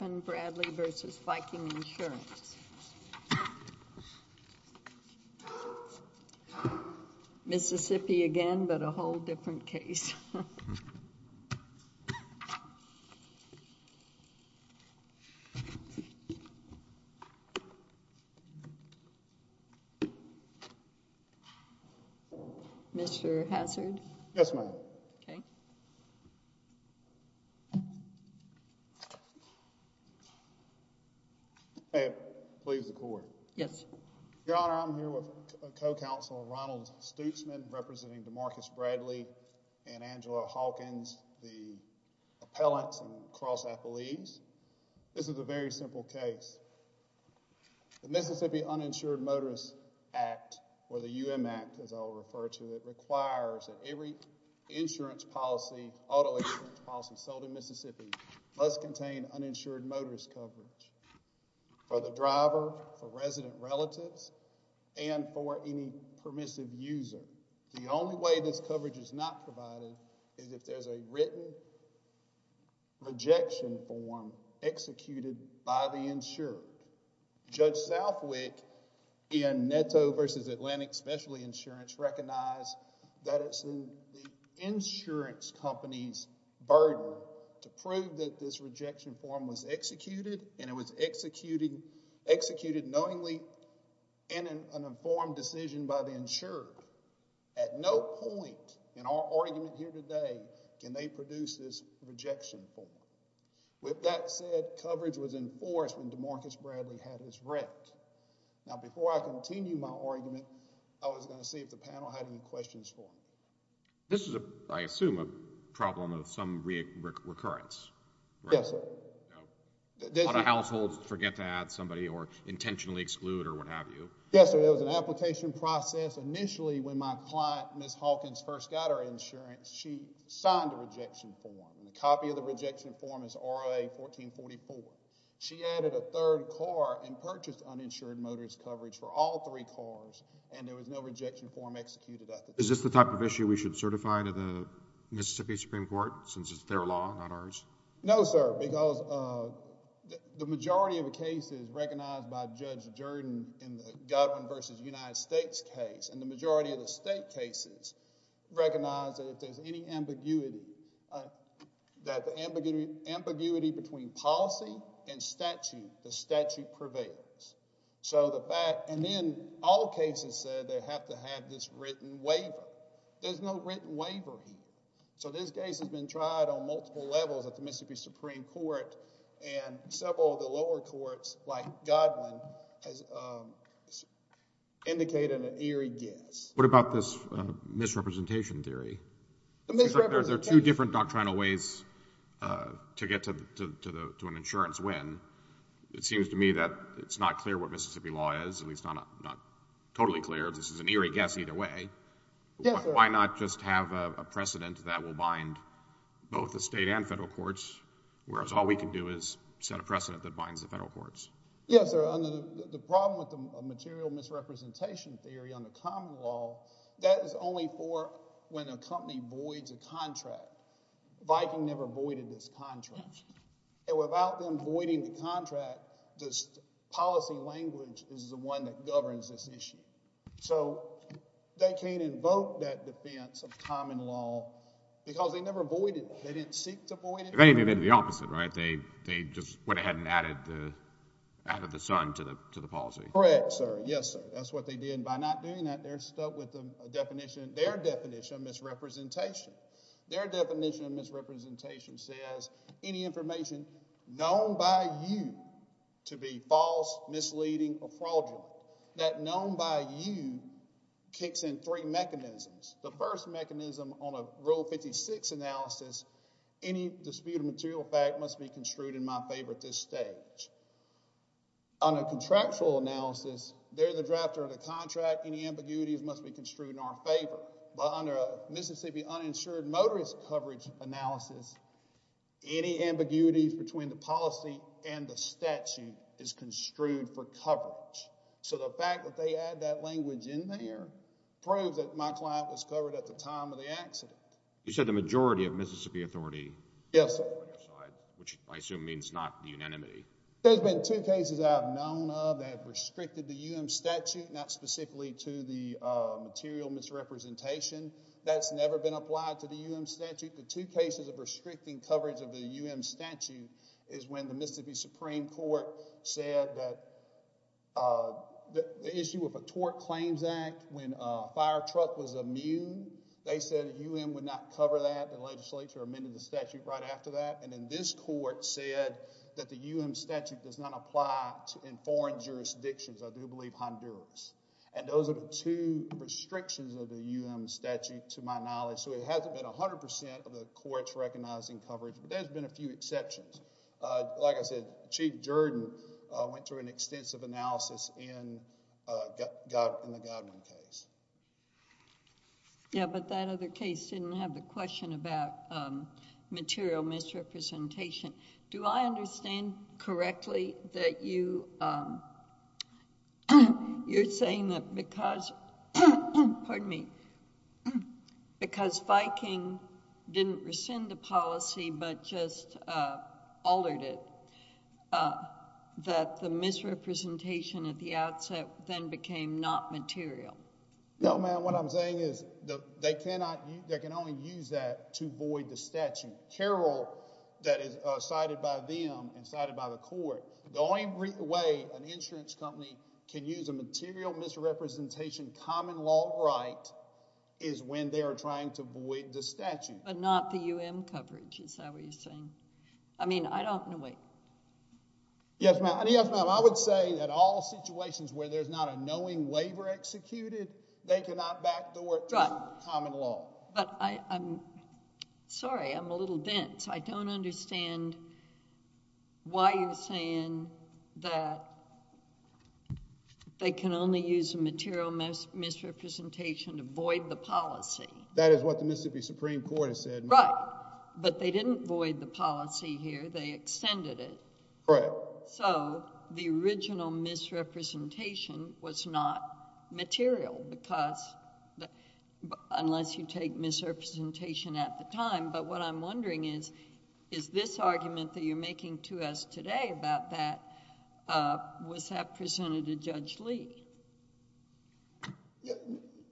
v. Viking Insurance. Mississippi again, but a whole different case. Mr. Hazard? Yes, ma'am. May it please the court. Yes. Your Honor, I'm here with co-counsel Ronald Stutzman, representing Demarcus Bradley and Angela Hawkins, the appellants and cross-athletes. This is a very simple case. The Mississippi Uninsured Motorist Act, or the UM Act as I'll refer to it, requires that every insurance policy, auto insurance policy, sold in Mississippi must contain uninsured motorist coverage for the driver, for resident relatives, and for any permissive user. The only way this coverage is not provided is if there's a written rejection form executed by the insurer. Judge Southwick in Netto v. Atlantic Specialty Insurance recognized that it's the insurance company's burden to prove that this rejection form was executed, and it was executed knowingly in an informed decision by the insurer. At no point in our argument here today can they produce this rejection form. With that said, coverage was enforced when Demarcus Bradley had his wreck. Now, before I continue my argument, I was going to see if the panel had any questions for me. This is, I assume, a problem of some recurrence, right? Yes, sir. A lot of households forget to add somebody or intentionally exclude or what have you. Yes, sir. There was an application process. Initially, when my client, Ms. Hawkins, first got her insurance, she signed a rejection form, and a copy of the rejection form is ROA-1444. She added a third car and purchased uninsured motorist coverage for all three cars, and there was no rejection form executed. Is this the type of issue we should certify to the Mississippi Supreme Court since it's their law, not ours? No, sir, because the majority of the cases recognized by Judge Jordan in the Godwin v. United States case, and the majority of the state cases recognize that if there's any ambiguity, that the ambiguity between policy and statute, the statute prevails. Then, all cases said they have to have this written waiver. There's no written waiver here. So this case has been tried on multiple levels at the Mississippi Supreme Court, and several of the lower courts, like Godwin, has indicated an eerie guess. What about this misrepresentation theory? The misrepresentation... Is there two different doctrinal ways to get to an insurance win? It seems to me that it's not clear what Mississippi law is, at least not totally clear. This is an eerie guess either way. Yes, sir. Why not just have a precedent that will bind both the state and federal courts, whereas all we can do is set a precedent that binds the federal courts? Yes, sir. The problem with the material misrepresentation theory on the common law, that is only for when a company voids a contract. Viking never voided this contract. Without them voiding the contract, this policy language is the one that governs this issue. So they can't invoke that defense of common law because they never voided it. They didn't seek to void it. If anything, they did the opposite, right? They just went ahead and added the sun to the policy. Correct, sir. Yes, sir. That's what they did. By not doing that, they're stuck with their definition of misrepresentation. Their definition of misrepresentation says any information known by you to be false, misleading, or fraudulent, that known by you kicks in three mechanisms. The first mechanism on a Rule 56 analysis, any disputed material fact must be construed in my favor at this stage. On a contractual analysis, they're the drafter of the contract. Any ambiguities must be construed in our favor. But under a Mississippi uninsured motorist coverage analysis, any ambiguity between the policy and the statute is construed for coverage. So the fact that they add that language in there proves that my client was covered at the time of the accident. You said the majority of Mississippi authority. Yes, sir. Which I assume means not the unanimity. There's been two cases I have known of that have restricted the U.M. statute, not specifically to the material misrepresentation. That's never been applied to the U.M. statute. The two cases of restricting coverage of the U.M. statute is when the Mississippi Supreme Court said that the issue of a Tort Claims Act when a fire truck was immune, they said the U.M. would not cover that. The legislature amended the statute right after that. And then this court said that the U.M. statute does not apply in foreign jurisdictions. I do believe Honduras. And those are the two restrictions of the U.M. statute to my knowledge. So it hasn't been 100% of the courts recognizing coverage, but there's been a few exceptions. Like I said, Chief Jordan went through an extensive analysis in the Godwin case. Yeah, but that other case didn't have the question about material misrepresentation. Do I understand correctly that you're saying that because... because Viking didn't rescind the policy but just altered it, that the misrepresentation at the outset then became not material? No, ma'am. What I'm saying is they can only use that to void the statute. Carroll, that is cited by them and cited by the court, the only way an insurance company can use a material misrepresentation common law right is when they are trying to void the statute. But not the U.M. coverage, is that what you're saying? I mean, I don't know... Yes, ma'am. Yes, ma'am. I would say that all situations where there's not a knowing waiver executed, they cannot back the word common law. But I'm... sorry, I'm a little dense. I don't understand why you're saying that they can only use a material misrepresentation to void the policy. That is what the Mississippi Supreme Court has said, ma'am. Right. But they didn't void the policy here, they extended it. Right. So, the original misrepresentation was not material because... unless you take misrepresentation at the time. But what I'm wondering is, is this argument that you're making to us today about that, was that presented to Judge Lee?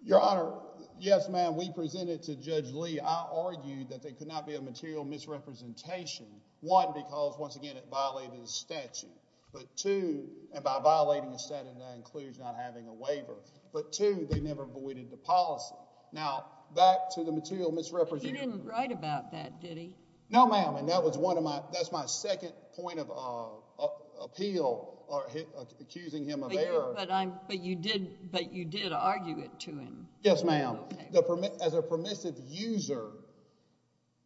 Your Honor, yes, ma'am. We presented to Judge Lee. I argued that there could not be a material misrepresentation. One, because, once again, it violated the statute. But two, and by violating the statute, that includes not having a waiver. But two, they never voided the policy. Now, back to the material misrepresentation... But you didn't write about that, did he? No, ma'am. And that was one of my... that's my second point of appeal, accusing him of error. But you did argue it to him. Yes, ma'am. As a permissive user,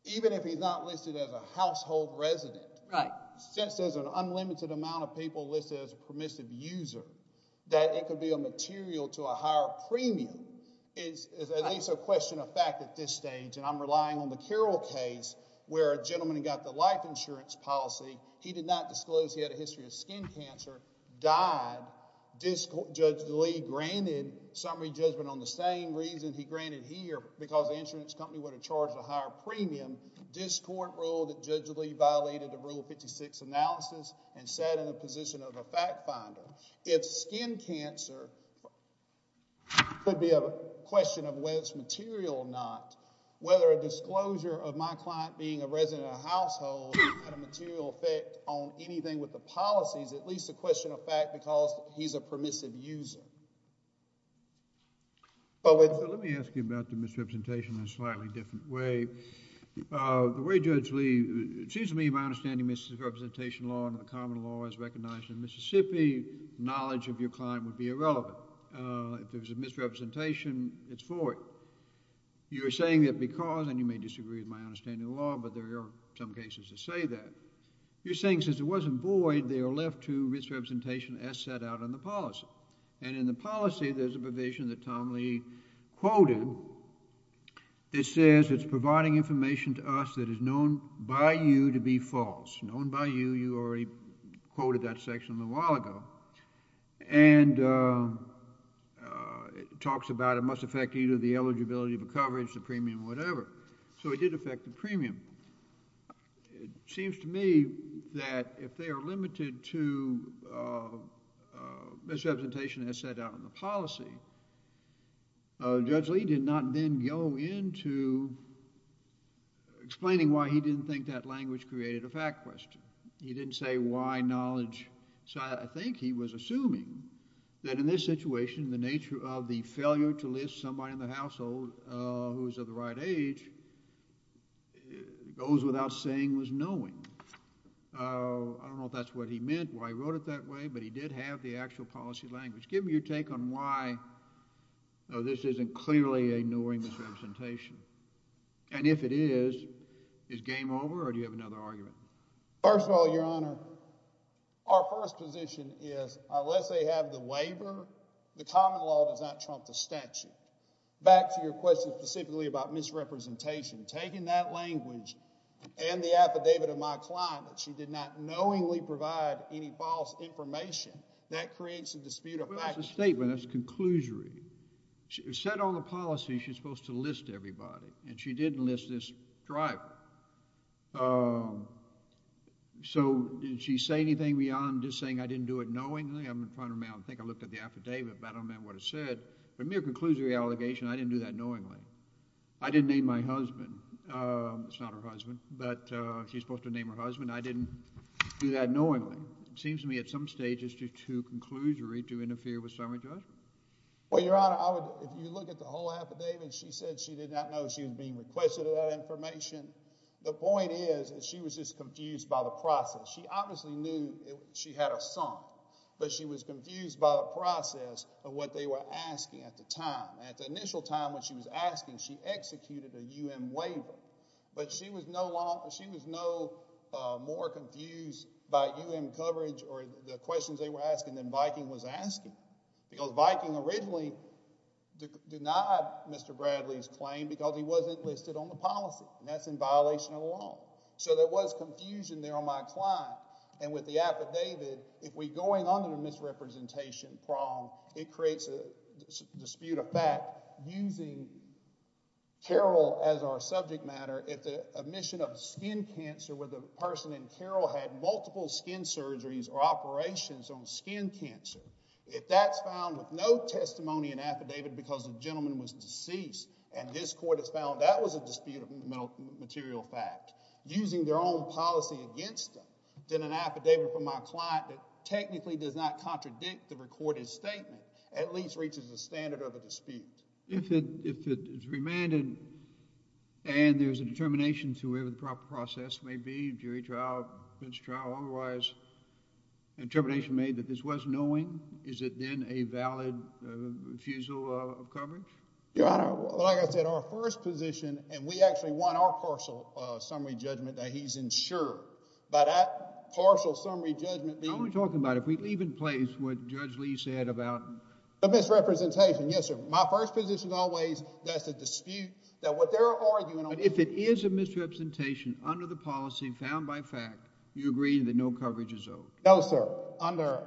even if he's not listed as a household resident... Right. Since there's an unlimited amount of people listed as a permissive user, that it could be a material to a higher premium is at least a question of fact at this stage, and I'm relying on the Carroll case where a gentleman got the life insurance policy. He did not disclose he had a history of skin cancer, died, Judge Lee granted summary judgment on the same reason he granted here, because the insurance company would have charged a higher premium. This court ruled that Judge Lee violated the rule of 56 analysis and sat in the position of a fact finder. If skin cancer could be a question of whether it's material or not, whether a disclosure of my client being a resident of a household had a material effect on anything with the policies, it's at least a question of fact because he's a permissive user. Let me ask you about the misrepresentation in a slightly different way. The way Judge Lee... it seems to me my understanding of misrepresentation law and the common law is recognized in Mississippi. Knowledge of your client would be irrelevant. If there's a misrepresentation, it's for it. You're saying that because, and you may disagree with my understanding of the law, but there are some cases that say that. You're saying since it wasn't void, they are left to misrepresentation as set out in the policy. And in the policy, there's a provision that Tom Lee quoted that says it's providing information to us that is known by you to be false. Known by you, you already quoted that section a little while ago. And it talks about it must affect either the eligibility of the coverage, the premium, whatever. So it did affect the premium. It seems to me that if they are limited to misrepresentation as set out in the policy, Judge Lee did not then go into explaining why he didn't think that language created a fact question. He didn't say why knowledge... I think he was assuming that in this situation, the nature of the failure to list somebody in the household who is of the right age goes without saying was knowing. I don't know if that's what he meant, why he wrote it that way, but he did have the actual policy language. Give me your take on why this isn't clearly ignoring misrepresentation. And if it is, is game over or do you have another argument? First of all, Your Honor, our first position is unless they have the waiver, the common law does not trump the statute. Back to your question specifically about misrepresentation. Taking that language and the affidavit of my client, that she did not knowingly provide any false information, that creates a dispute of fact... Well, that's a statement. That's conclusory. It was set on the policy she's supposed to list everybody, and she didn't list this driver. So did she say anything beyond just saying I didn't do it knowingly? I'm going to point her out and think I looked at the affidavit, but I don't know what it said. A mere conclusory allegation, I didn't do that knowingly. I didn't name my husband. It's not her husband, but she's supposed to name her husband. I didn't do that knowingly. It seems to me at some stage it's too conclusory to interfere with summary judgment. Well, Your Honor, if you look at the whole affidavit, she said she did not know she was being requested that information. The point is that she was just confused by the process. She obviously knew she had a son, but she was confused by the process of what they were asking at the time. At the initial time when she was asking, she executed a U.M. waiver, but she was no more confused by U.M. coverage or the questions they were asking than Viking was asking because Viking originally denied Mr. Bradley's claim because he wasn't listed on the policy, and that's in violation of the law. So there was confusion there on my client, and with the affidavit, if we're going under the misrepresentation prong, it creates a dispute of fact using Carroll as our subject matter. If the admission of skin cancer where the person in Carroll had multiple skin surgeries or operations on skin cancer, if that's found with no testimony in affidavit because the gentleman was deceased and this court has found that was a dispute of material fact, using their own policy against them, then an affidavit from my client that technically does not contradict the recorded statement at least reaches the standard of a dispute. If it's remanded and there's a determination to whatever the proper process may be, jury trial, defense trial, otherwise, determination made that this was knowing, is it then a valid refusal of coverage? Your Honor, like I said, our first position, and we actually want our partial summary judgment that he's insured. By that partial summary judgment being— I'm only talking about if we leave in place what Judge Lee said about— The misrepresentation, yes, sir. My first position always that's a dispute that what they're arguing— But if it is a misrepresentation under the policy found by fact, you agree that no coverage is owed. No, sir. Under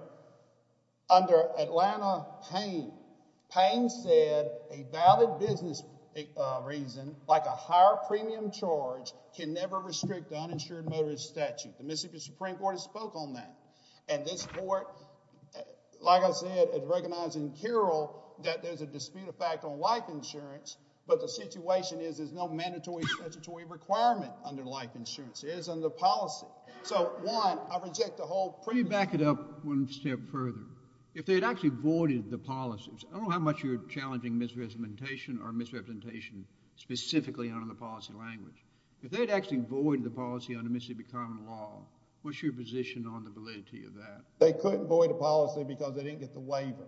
Atlanta Payne, Payne said, a valid business reason like a higher premium charge can never restrict the uninsured motorist statute. The Mississippi Supreme Court has spoke on that. And this court, like I said, is recognizing here that there's a dispute of fact on life insurance, but the situation is there's no mandatory statutory requirement under life insurance. It is under policy. So, one, I reject the whole— Can you back it up one step further? If they had actually voided the policies, I don't know how much you're challenging misrepresentation or misrepresentation specifically under the policy language. If they had actually voided the policy under Mississippi common law, what's your position on the validity of that? They couldn't void the policy because they didn't get the waiver.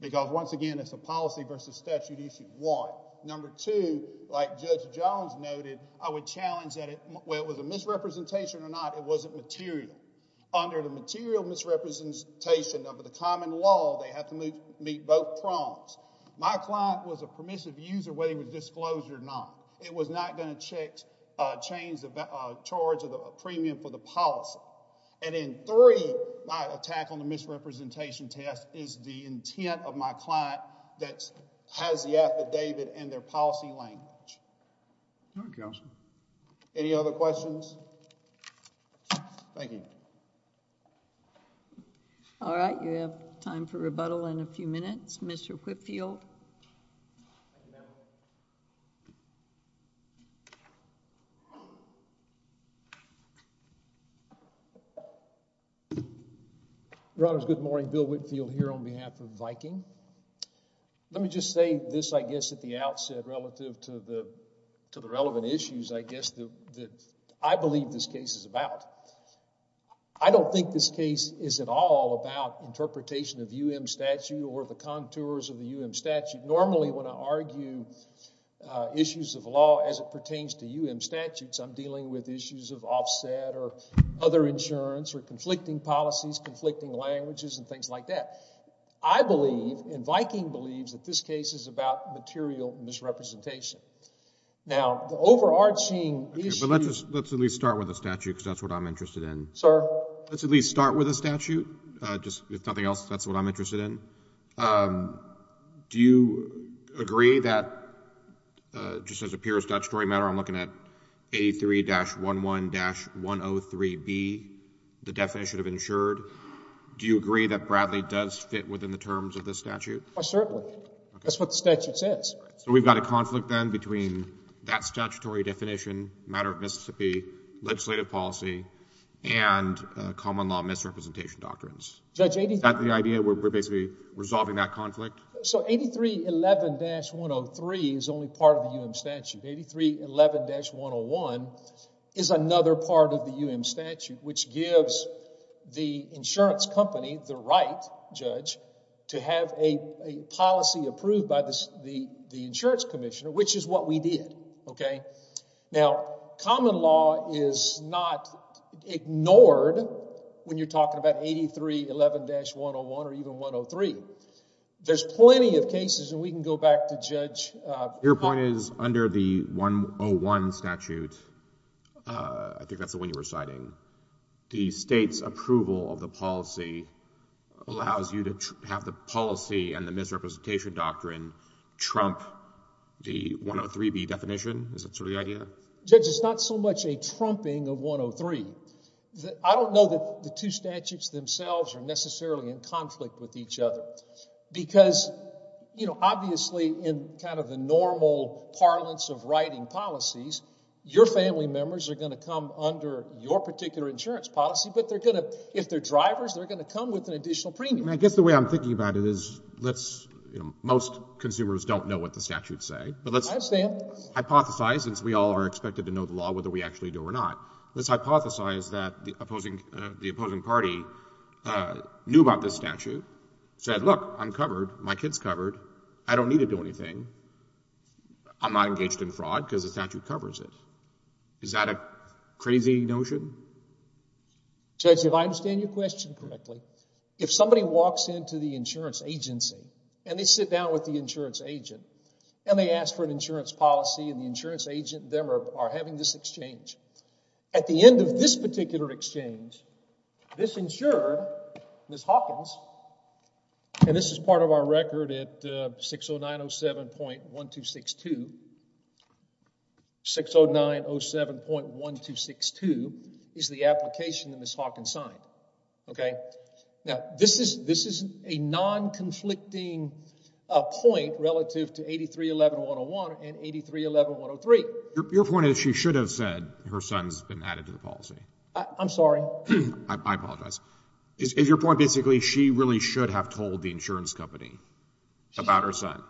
Because, once again, it's a policy versus statute issue. One. Number two, like Judge Jones noted, I would challenge that whether it was a misrepresentation or not, it wasn't material. Under the material misrepresentation of the common law, they have to meet both prongs. My client was a permissive user whether he would disclose it or not. It was not going to change the charge of the premium for the policy. And then, three, my attack on the misrepresentation test is the intent of my client that has the affidavit and their policy language. All right, counsel. Any other questions? Thank you. All right. You have time for rebuttal in a few minutes. Mr. Whitfield. Your Honors, good morning. Bill Whitfield here on behalf of Viking. Let me just say this, I guess, at the outset relative to the relevant issues, I guess, that I believe this case is about. I don't think this case is at all about interpretation of U.M. statute or the contours of the U.M. statute. Normally, when I argue issues of law as it pertains to U.M. statutes, I'm dealing with issues of offset or other insurance or conflicting policies, conflicting languages, and things like that. I believe, and Viking believes, that this case is about material misrepresentation. Now, the overarching issue... Okay, but let's at least start with the statute because that's what I'm interested in. Sir? Let's at least start with the statute. If nothing else, that's what I'm interested in. Do you agree that, just as a pure statutory matter, I'm looking at A3-11-103B, the definition of insured. Do you agree that Bradley does fit within the terms of this statute? Oh, certainly. That's what the statute says. So we've got a conflict then between that statutory definition, matter of Mississippi, legislative policy, and common law misrepresentation doctrines. Is that the idea? We're basically resolving that conflict? So A3-11-103 is only part of the U.M. statute. A3-11-101 is another part of the U.M. statute, which gives the insurance company the right, judge, to have a policy approved by the insurance commissioner, which is what we did. Now, common law is not ignored when you're talking about A3-11-101 or even 103. There's plenty of cases, and we can go back to Judge... the state's approval of the policy allows you to have the policy and the misrepresentation doctrine trump the 103B definition. Is that sort of the idea? Judge, it's not so much a trumping of 103. I don't know that the two statutes themselves are necessarily in conflict with each other because, you know, obviously in kind of the normal parlance of writing policies, your family members are going to come under your particular insurance policy, but they're going to... if they're drivers, they're going to come with an additional premium. I guess the way I'm thinking about it is let's... most consumers don't know what the statutes say, but let's... I understand.... hypothesize, since we all are expected to know the law, whether we actually do or not. Let's hypothesize that the opposing party knew about this statute, said, look, I'm covered, my kid's covered, I don't need to do anything, I'm not engaged in fraud because the statute covers it. Is that a crazy notion? Judge, if I understand your question correctly, if somebody walks into the insurance agency and they sit down with the insurance agent and they ask for an insurance policy and the insurance agent and them are having this exchange, at the end of this particular exchange, this insurer, Ms. Hawkins, and this is part of our record at 60907.1262, 60907.1262 is the application that Ms. Hawkins signed. Okay? Now, this is a non-conflicting point relative to 8311.101 and 8311.103. Your point is she should have said her son's been added to the policy. I'm sorry. I apologize. Is your point basically she really should have told the insurance company about her son?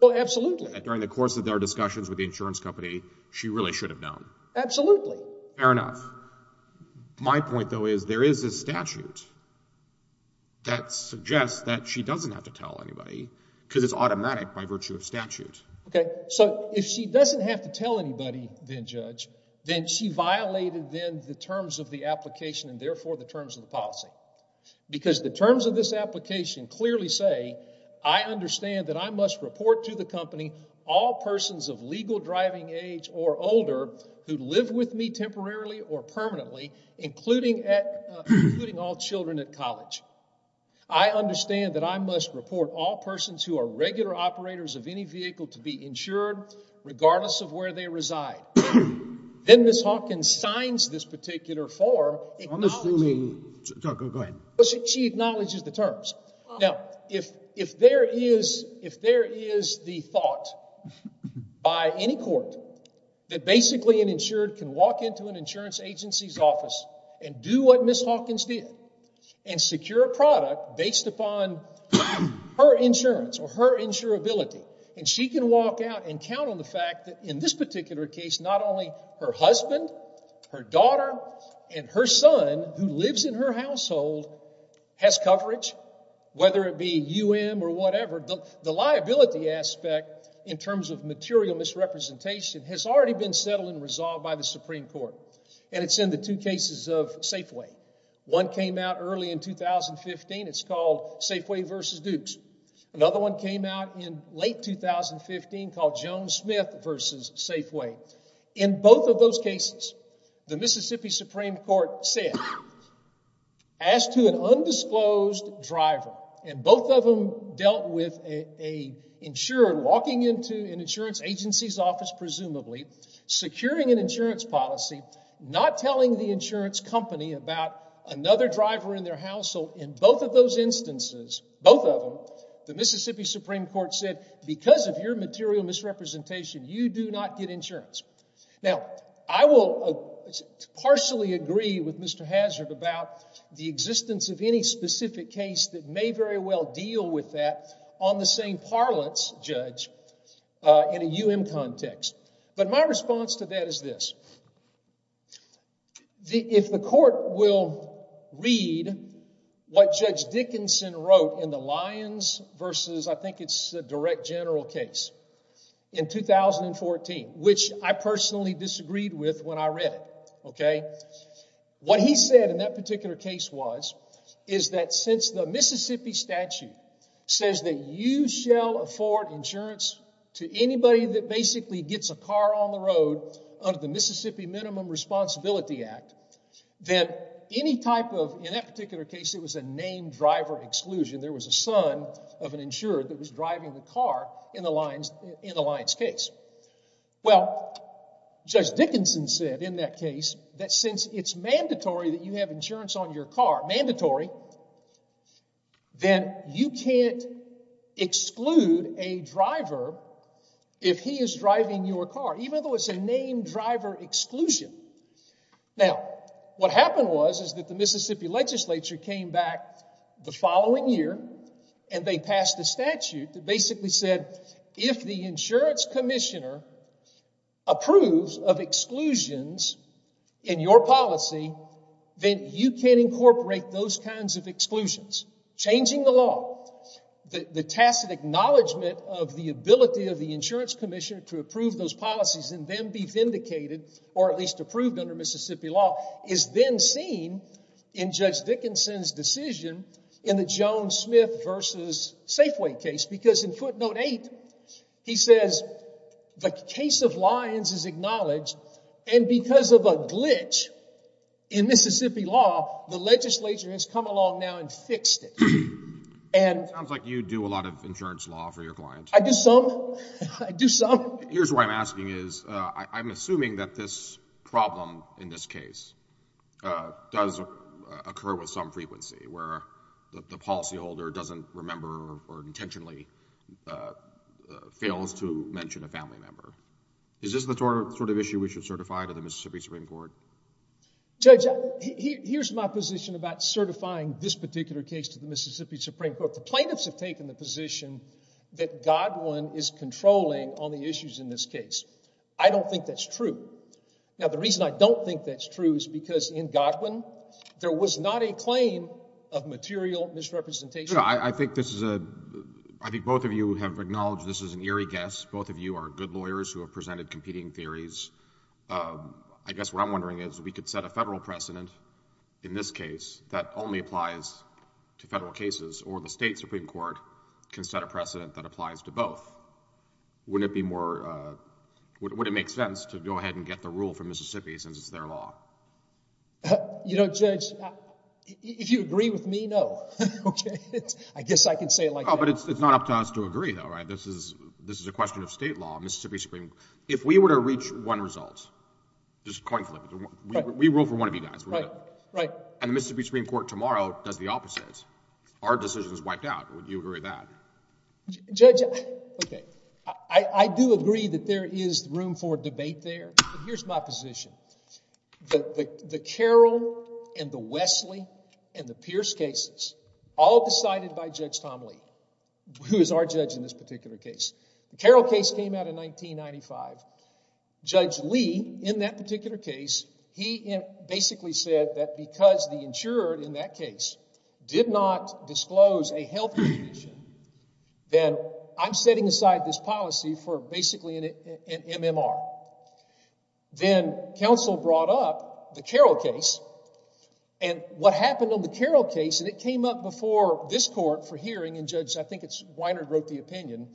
Well, absolutely. During the course of their discussions with the insurance company, she really should have known. Absolutely. Fair enough. My point, though, is there is a statute that suggests that she doesn't have to tell anybody because it's automatic by virtue of statute. Okay. So if she doesn't have to tell anybody then, Judge, then she violated then the terms of the application and, therefore, the terms of the policy because the terms of this application clearly say, I understand that I must report to the company all persons of legal driving age or older who live with me temporarily or permanently, including all children at college. I understand that I must report all persons who are regular operators of any vehicle to be insured regardless of where they reside. Then Ms. Hawkins signs this particular form. I'm assuming. Go ahead. She acknowledges the terms. Now, if there is the thought by any court that basically an insured can walk into an insurance agency's office and do what Ms. Hawkins did and secure a product based upon her insurance or her insurability and she can walk out and count on the fact that, in this particular case, not only her husband, her daughter, and her son who lives in her household has coverage, whether it be UM or whatever, the liability aspect in terms of material misrepresentation has already been settled and resolved by the Supreme Court. And it's in the two cases of Safeway. One came out early in 2015. It's called Safeway v. Dukes. Another one came out in late 2015 called Jones-Smith v. Safeway. In both of those cases, the Mississippi Supreme Court said, ask to an undisclosed driver, and both of them dealt with an insured walking into an insurance agency's office, presumably, securing an insurance policy, not telling the insurance company about another driver in their household. In both of those instances, both of them, the Mississippi Supreme Court said, because of your material misrepresentation, you do not get insurance. Now, I will partially agree with Mr. Hazard about the existence of any specific case that may very well deal with that on the same parlance, Judge, in a UM context. But my response to that is this. If the court will read what Judge Dickinson wrote in the Lyons v. I think it's a direct general case in 2014, which I personally disagreed with when I read it, okay, what he said in that particular case was, is that since the Mississippi statute says that you shall afford insurance to anybody that basically gets a car on the road under the Mississippi Minimum Responsibility Act, that any type of, in that particular case, it was a named driver exclusion, there was a son of an insured that was driving the car in the Lyons case. Well, Judge Dickinson said in that case that since it's mandatory that you have insurance on your car, mandatory, then you can't exclude a driver if he is driving your car, even though it's a named driver exclusion. Now, what happened was is that the Mississippi legislature came back the following year and they passed a statute that basically said, if the insurance commissioner approves of exclusions in your policy, then you can incorporate those kinds of exclusions. Changing the law, the tacit acknowledgement of the ability of the insurance commissioner to approve those policies and then be vindicated, or at least approved under Mississippi law, is then seen in Judge Dickinson's decision in the Jones-Smith v. Safeway case because in footnote 8, he says the case of Lyons is acknowledged and because of a glitch in Mississippi law, the legislature has come along now and fixed it. It sounds like you do a lot of insurance law for your clients. I do some. I do some. Here's what I'm asking is, I'm assuming that this problem in this case does occur with some frequency where the policyholder doesn't remember or intentionally fails to mention a family member. Is this the sort of issue we should certify to the Mississippi Supreme Court? Judge, here's my position about certifying this particular case to the Mississippi Supreme Court. The plaintiffs have taken the position that Godwin is controlling on the issues in this case. I don't think that's true. Now, the reason I don't think that's true is because in Godwin, there was not a claim of material misrepresentation. I think this is a—I think both of you have acknowledged this is an eerie guess. Both of you are good lawyers who have presented competing theories. I guess what I'm wondering is we could set a federal precedent in this case that only applies to federal cases, or the state Supreme Court can set a precedent that applies to both. Wouldn't it be more—would it make sense to go ahead and get the rule from Mississippi since it's their law? You know, Judge, if you agree with me, no. Okay? I guess I can say it like that. Oh, but it's not up to us to agree, though, right? This is a question of state law. Mississippi Supreme—if we were to reach one result, just coin flip, we rule for one of you guys. Right, right. And the Mississippi Supreme Court tomorrow does the opposite. Our decision is wiped out. Would you agree with that? Judge, okay, I do agree that there is room for debate there, but here's my position. The Carroll and the Wesley and the Pierce cases, all decided by Judge Tom Lee, who is our judge in this particular case. The Carroll case came out in 1995. Judge Lee, in that particular case, he basically said that because the insurer in that case did not disclose a health condition, then I'm setting aside this policy for basically an MMR. Then counsel brought up the Carroll case, and what happened on the Carroll case, and it came up before this court for hearing, and Judge, I think it's Weiner who wrote the opinion,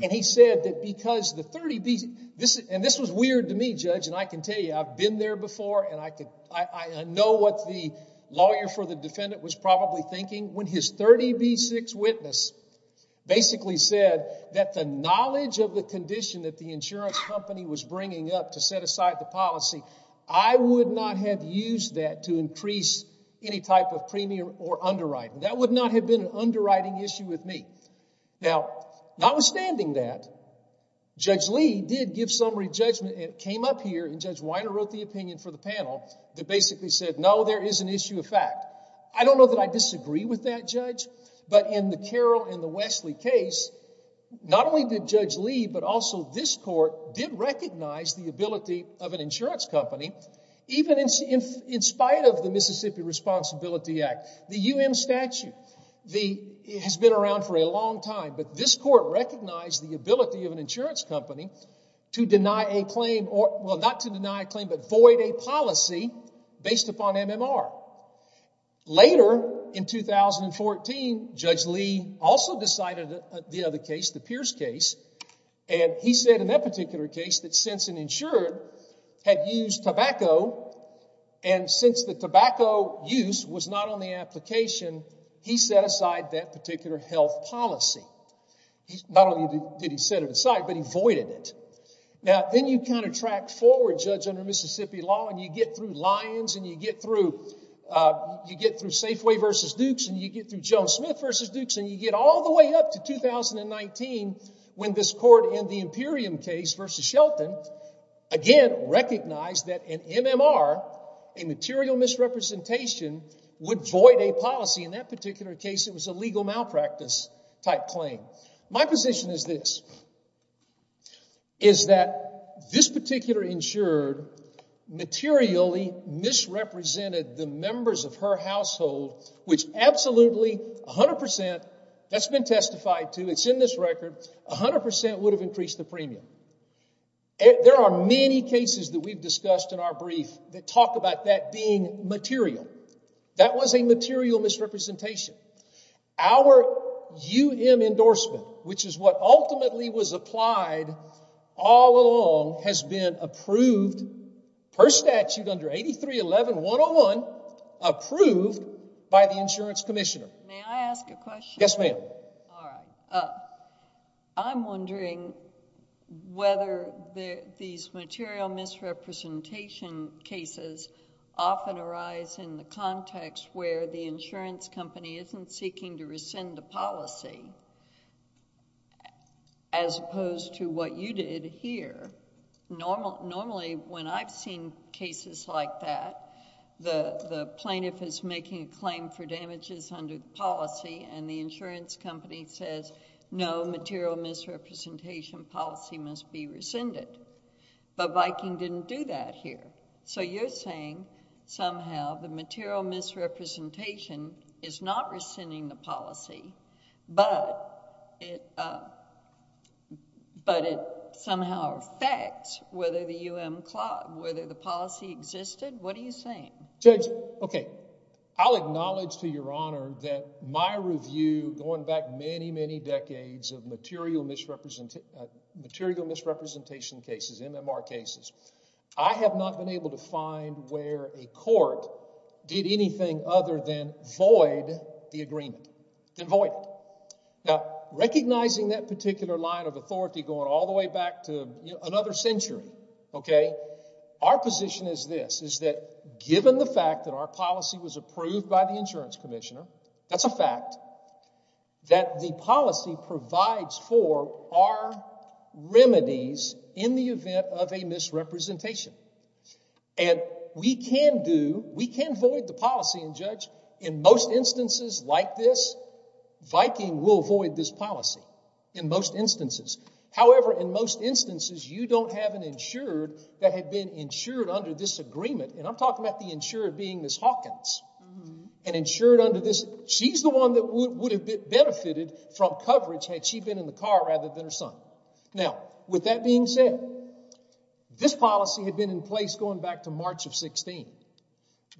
and he said that because the 30B—and this was weird to me, Judge, and I can tell you, I've been there before, and I know what the lawyer for the defendant was probably thinking. When his 30B6 witness basically said that the knowledge of the condition that the insurance company was bringing up to set aside the policy, I would not have used that to increase any type of premium or underwriting. That would not have been an underwriting issue with me. Now, notwithstanding that, Judge Lee did give summary judgment, and it came up here, and Judge Weiner wrote the opinion for the panel that basically said, no, there is an issue of fact. I don't know that I disagree with that judge, but in the Carroll and the Wesley case, not only did Judge Lee, but also this court did recognize the ability of an insurance company, even in spite of the Mississippi Responsibility Act, the UM statute has been around for a long time, but this court recognized the ability of an insurance company to deny a claim, well, not to deny a claim, but void a policy based upon MMR. Later, in 2014, Judge Lee also decided the other case, the Pierce case, and he said in that particular case that since an insurer had used tobacco, and since the tobacco use was not on the application, he set aside that particular health policy. Not only did he set it aside, but he voided it. Now, then you kind of track forward, Judge, under Mississippi law, and you get through Lyons, and you get through Safeway v. Dukes, and you get through Joan Smith v. Dukes, and you get all the way up to 2019 when this court in the Imperium case v. Shelton, again, recognized that an MMR, a material misrepresentation, would void a policy. In that particular case, it was a legal malpractice type claim. My position is this, is that this particular insurer materially misrepresented the members of her household, which absolutely, 100 percent, that's been testified to, it's in this record, 100 percent would have increased the premium. There are many cases that we've discussed in our brief that talk about that being material. That was a material misrepresentation. Our UM endorsement, which is what ultimately was applied all along, has been approved per statute under 8311-101, approved by the insurance commissioner. May I ask a question? Yes, ma'am. All right. I'm wondering whether these material misrepresentation cases often arise in the context where the insurance company isn't seeking to rescind the policy as opposed to what you did here. Normally, when I've seen cases like that, the plaintiff is making a claim for damages under policy and the insurance company says, no, material misrepresentation policy must be rescinded, but Viking didn't do that here. So you're saying somehow the material misrepresentation is not rescinding the policy, but it somehow affects whether the policy existed? What are you saying? Judge, okay. I'll acknowledge to Your Honor that my review going back many, many decades of material misrepresentation cases, MMR cases, I have not been able to find where a court did anything other than void the agreement. Then void it. Now, recognizing that particular line of authority going all the way back to another century, okay, our position is this, is that given the fact that our policy was approved by the insurance commissioner, that's a fact that the policy provides for our remedies in the event of a misrepresentation. And we can do, we can void the policy, and Judge, in most instances like this, Viking will void this policy, in most instances. However, in most instances, you don't have an insured that had been insured under this agreement, and I'm talking about the insured being Ms. Hawkins, and insured under this, she's the one that would have benefited from coverage had she been in the car rather than her son. Now, with that being said, this policy had been in place going back to March of 16.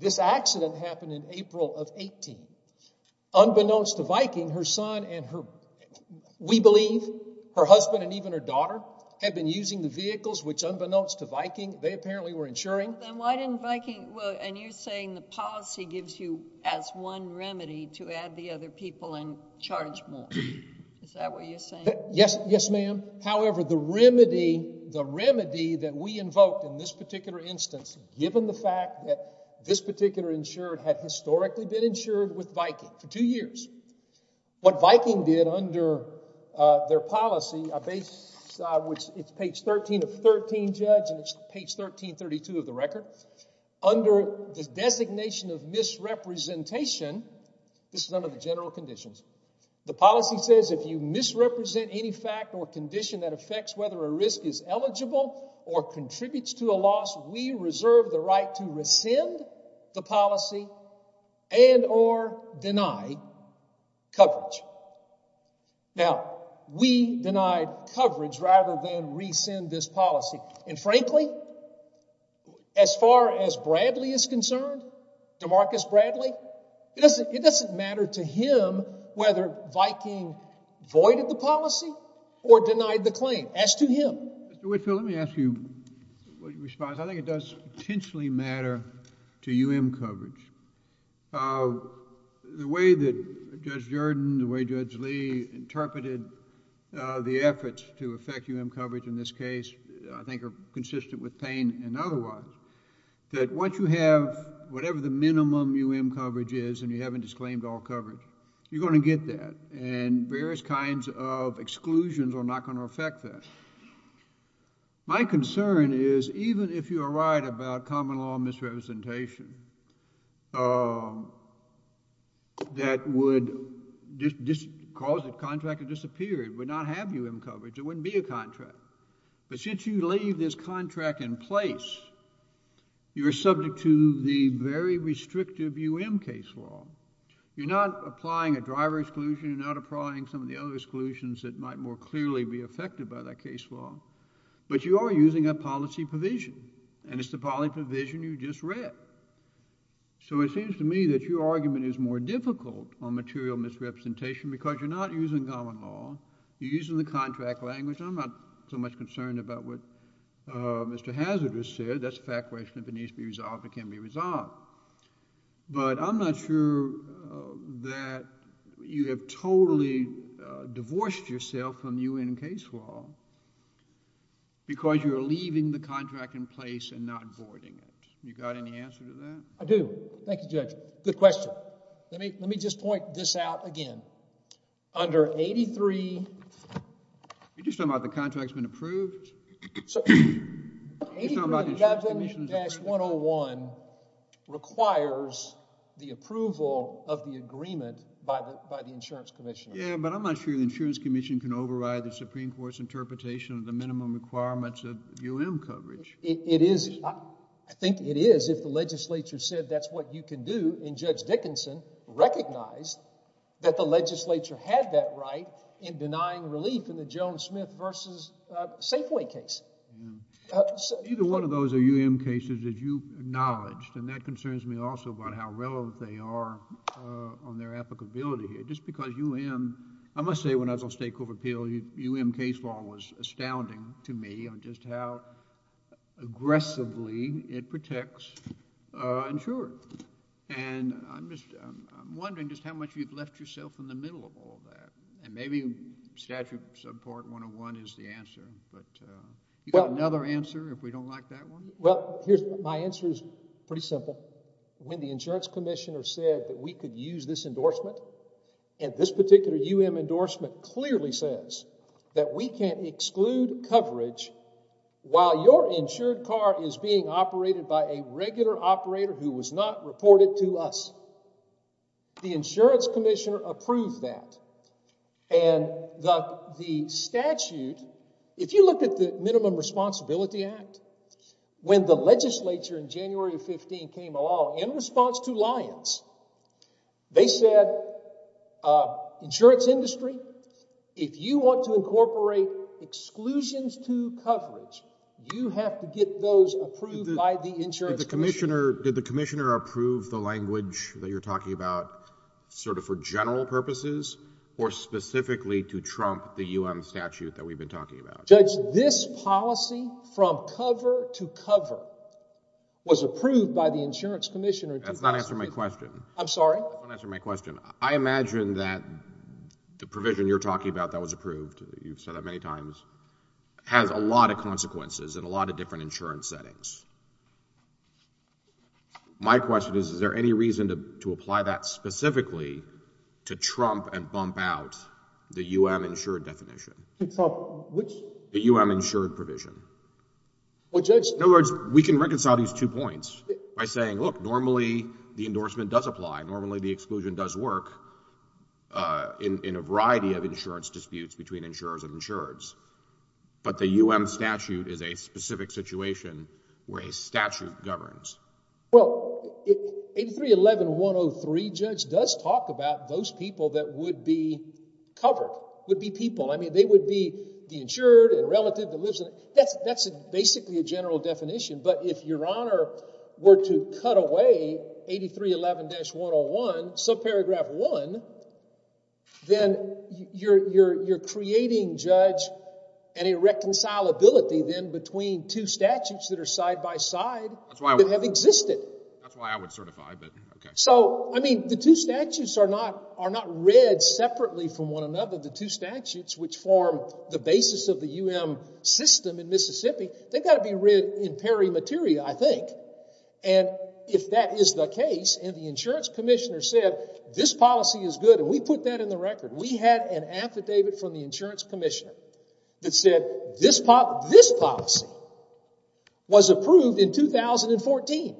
This accident happened in April of 18. Unbeknownst to Viking, her son and her, we believe, her husband and even her daughter, had been using the vehicles, which unbeknownst to Viking, they apparently were insuring. Then why didn't Viking, and you're saying the policy gives you as one remedy to add the other people in charge more. Is that what you're saying? Yes, ma'am. However, the remedy that we invoked in this particular instance, given the fact that this particular insured had historically been insured with Viking for two years, what Viking did under their policy, it's page 13 of 13, Judge, and it's page 1332 of the record. Under the designation of misrepresentation, this is under the general conditions, the policy says if you misrepresent any fact or condition that affects whether a risk is eligible or contributes to a loss, we reserve the right to rescind the policy and or deny coverage. Now, we denied coverage rather than rescind this policy. And frankly, as far as Bradley is concerned, DeMarcus Bradley, it doesn't matter to him whether Viking voided the policy or denied the claim. As to him. Mr. Whitfield, let me ask you what your response is. I think it does potentially matter to U.M. coverage. The way that Judge Jordan, the way Judge Lee interpreted the efforts to affect U.M. coverage in this case, I think are consistent with Payne and otherwise. That once you have whatever the minimum U.M. coverage is and you haven't disclaimed all coverage, you're going to get that and various kinds of exclusions are not going to affect that. My concern is even if you are right about common law misrepresentation that would cause the contract to disappear, it would not have U.M. coverage, it wouldn't be a contract. But since you leave this contract in place, you are subject to the very restrictive U.M. case law. You're not applying a driver exclusion. You're not applying some of the other exclusions that might more clearly be affected by that case law. But you are using a policy provision, and it's the policy provision you just read. So it seems to me that your argument is more difficult on material misrepresentation because you're not using common law. You're using the contract language. I'm not so much concerned about what Mr. Hazardous said. That's a fact question. If it needs to be resolved, it can be resolved. But I'm not sure that you have totally divorced yourself from the U.N. case law because you are leaving the contract in place and not voiding it. You got any answer to that? I do. Thank you, Judge. Good question. Let me just point this out again. Under 83— You're just talking about the contract's been approved? 83-101 requires the approval of the agreement by the insurance commission. Yeah, but I'm not sure the insurance commission can override the Supreme Court's interpretation of the minimum requirements of U.N. coverage. I think it is if the legislature said that's what you can do, and Judge Dickinson recognized that the legislature had that right in denying relief in the Joan Smith v. Safeway case. Either one of those are U.N. cases that you acknowledge, and that concerns me also about how relevant they are on their applicability here. Just because U.N.—I must say when I was on state court appeal, U.N. case law was astounding to me on just how aggressively it protects insurers. And I'm wondering just how much you've left yourself in the middle of all that. And maybe statute subpart 101 is the answer, but you got another answer if we don't like that one? Well, my answer is pretty simple. When the insurance commissioner said that we could use this endorsement, and this particular U.N. endorsement clearly says that we can't exclude coverage while your insured car is being operated by a regular operator who was not reported to us. The insurance commissioner approved that. And the statute—if you look at the Minimum Responsibility Act, when the legislature in January of 15 came along in response to Lyons, they said, insurance industry, if you want to incorporate exclusions to coverage, you have to get those approved by the insurance— Did the commissioner approve the language that you're talking about sort of for general purposes or specifically to trump the U.N. statute that we've been talking about? Judge, this policy from cover to cover was approved by the insurance commissioner— That's not answering my question. I'm sorry? That's not answering my question. I imagine that the provision you're talking about that was approved, you've said that many times, has a lot of consequences in a lot of different insurance settings. My question is, is there any reason to apply that specifically to trump and bump out the U.N. insured definition? Trump which? The U.N. insured provision. Well, Judge— In other words, we can reconcile these two points by saying, look, normally the endorsement does apply, normally the exclusion does work in a variety of insurance disputes between insurers and insureds, but the U.N. statute is a specific situation where a statute governs. Well, 8311103, Judge, does talk about those people that would be covered, would be people. I mean, they would be the insured, a relative that lives—that's basically a general definition. But if Your Honor were to cut away 8311-101, subparagraph 1, then you're creating, Judge, an irreconcilability then between two statutes that are side by side that have existed. That's why I would certify, but okay. So, I mean, the two statutes are not read separately from one another. The two statutes which form the basis of the U.N. system in Mississippi, they've got to be read in pari materia, I think. And if that is the case, and the insurance commissioner said this policy is good, and we put that in the record, we had an affidavit from the insurance commissioner that said this policy was approved in 2014.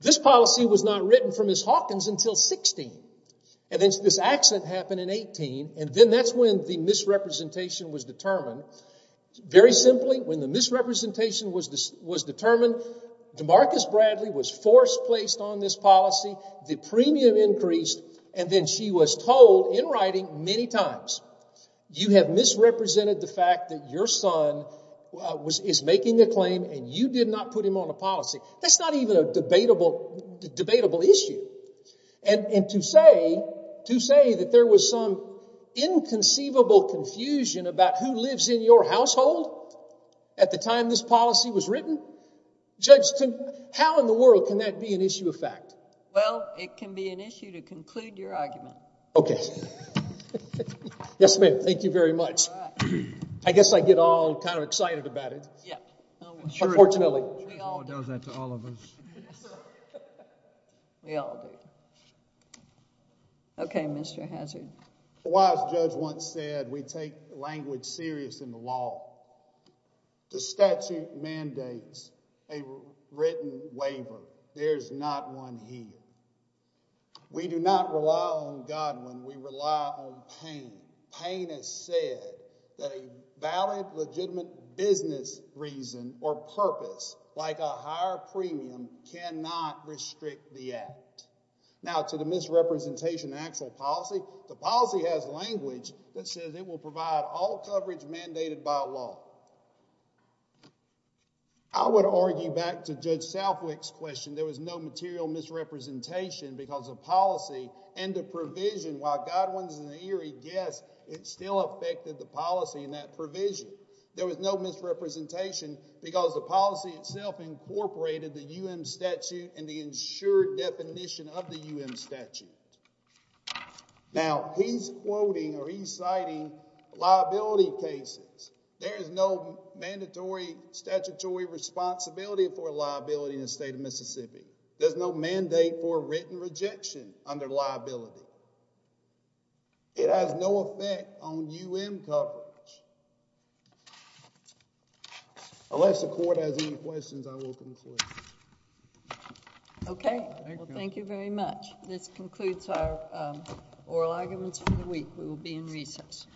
This policy was not written from Miss Hawkins until 16. And then this accident happened in 18, and then that's when the misrepresentation was determined. Very simply, when the misrepresentation was determined, Demarcus Bradley was forced placed on this policy. The premium increased, and then she was told in writing many times, you have misrepresented the fact that your son is making a claim, and you did not put him on a policy. That's not even a debatable issue. And to say that there was some inconceivable confusion about who lives in your household at the time this policy was written, Judge, how in the world can that be an issue of fact? Well, it can be an issue to conclude your argument. Okay. Yes, ma'am. Thank you very much. I guess I get all kind of excited about it. Yeah. Unfortunately. The law does that to all of us. We all do. Okay, Mr. Hazard. A wise judge once said we take language serious in the law. The statute mandates a written waiver. There's not one here. We do not rely on God when we rely on pain. Pain has said that a valid, legitimate business reason or purpose, like a higher premium, cannot restrict the act. Now, to the misrepresentation of actual policy, the policy has language that says it will provide all coverage mandated by law. I would argue back to Judge Southwick's question, there was no material misrepresentation because of policy and the provision, while Godwin's in the eerie guess, it still affected the policy and that provision. There was no misrepresentation because the policy itself incorporated the U.M. statute and the insured definition of the U.M. statute. Now, he's quoting or he's citing liability cases. There is no mandatory statutory responsibility for liability in the state of Mississippi. There's no mandate for written rejection under liability. It has no effect on U.M. coverage. Unless the court has any questions, I will conclude. Okay. Thank you very much. This concludes our oral arguments for the week. We will be in recess.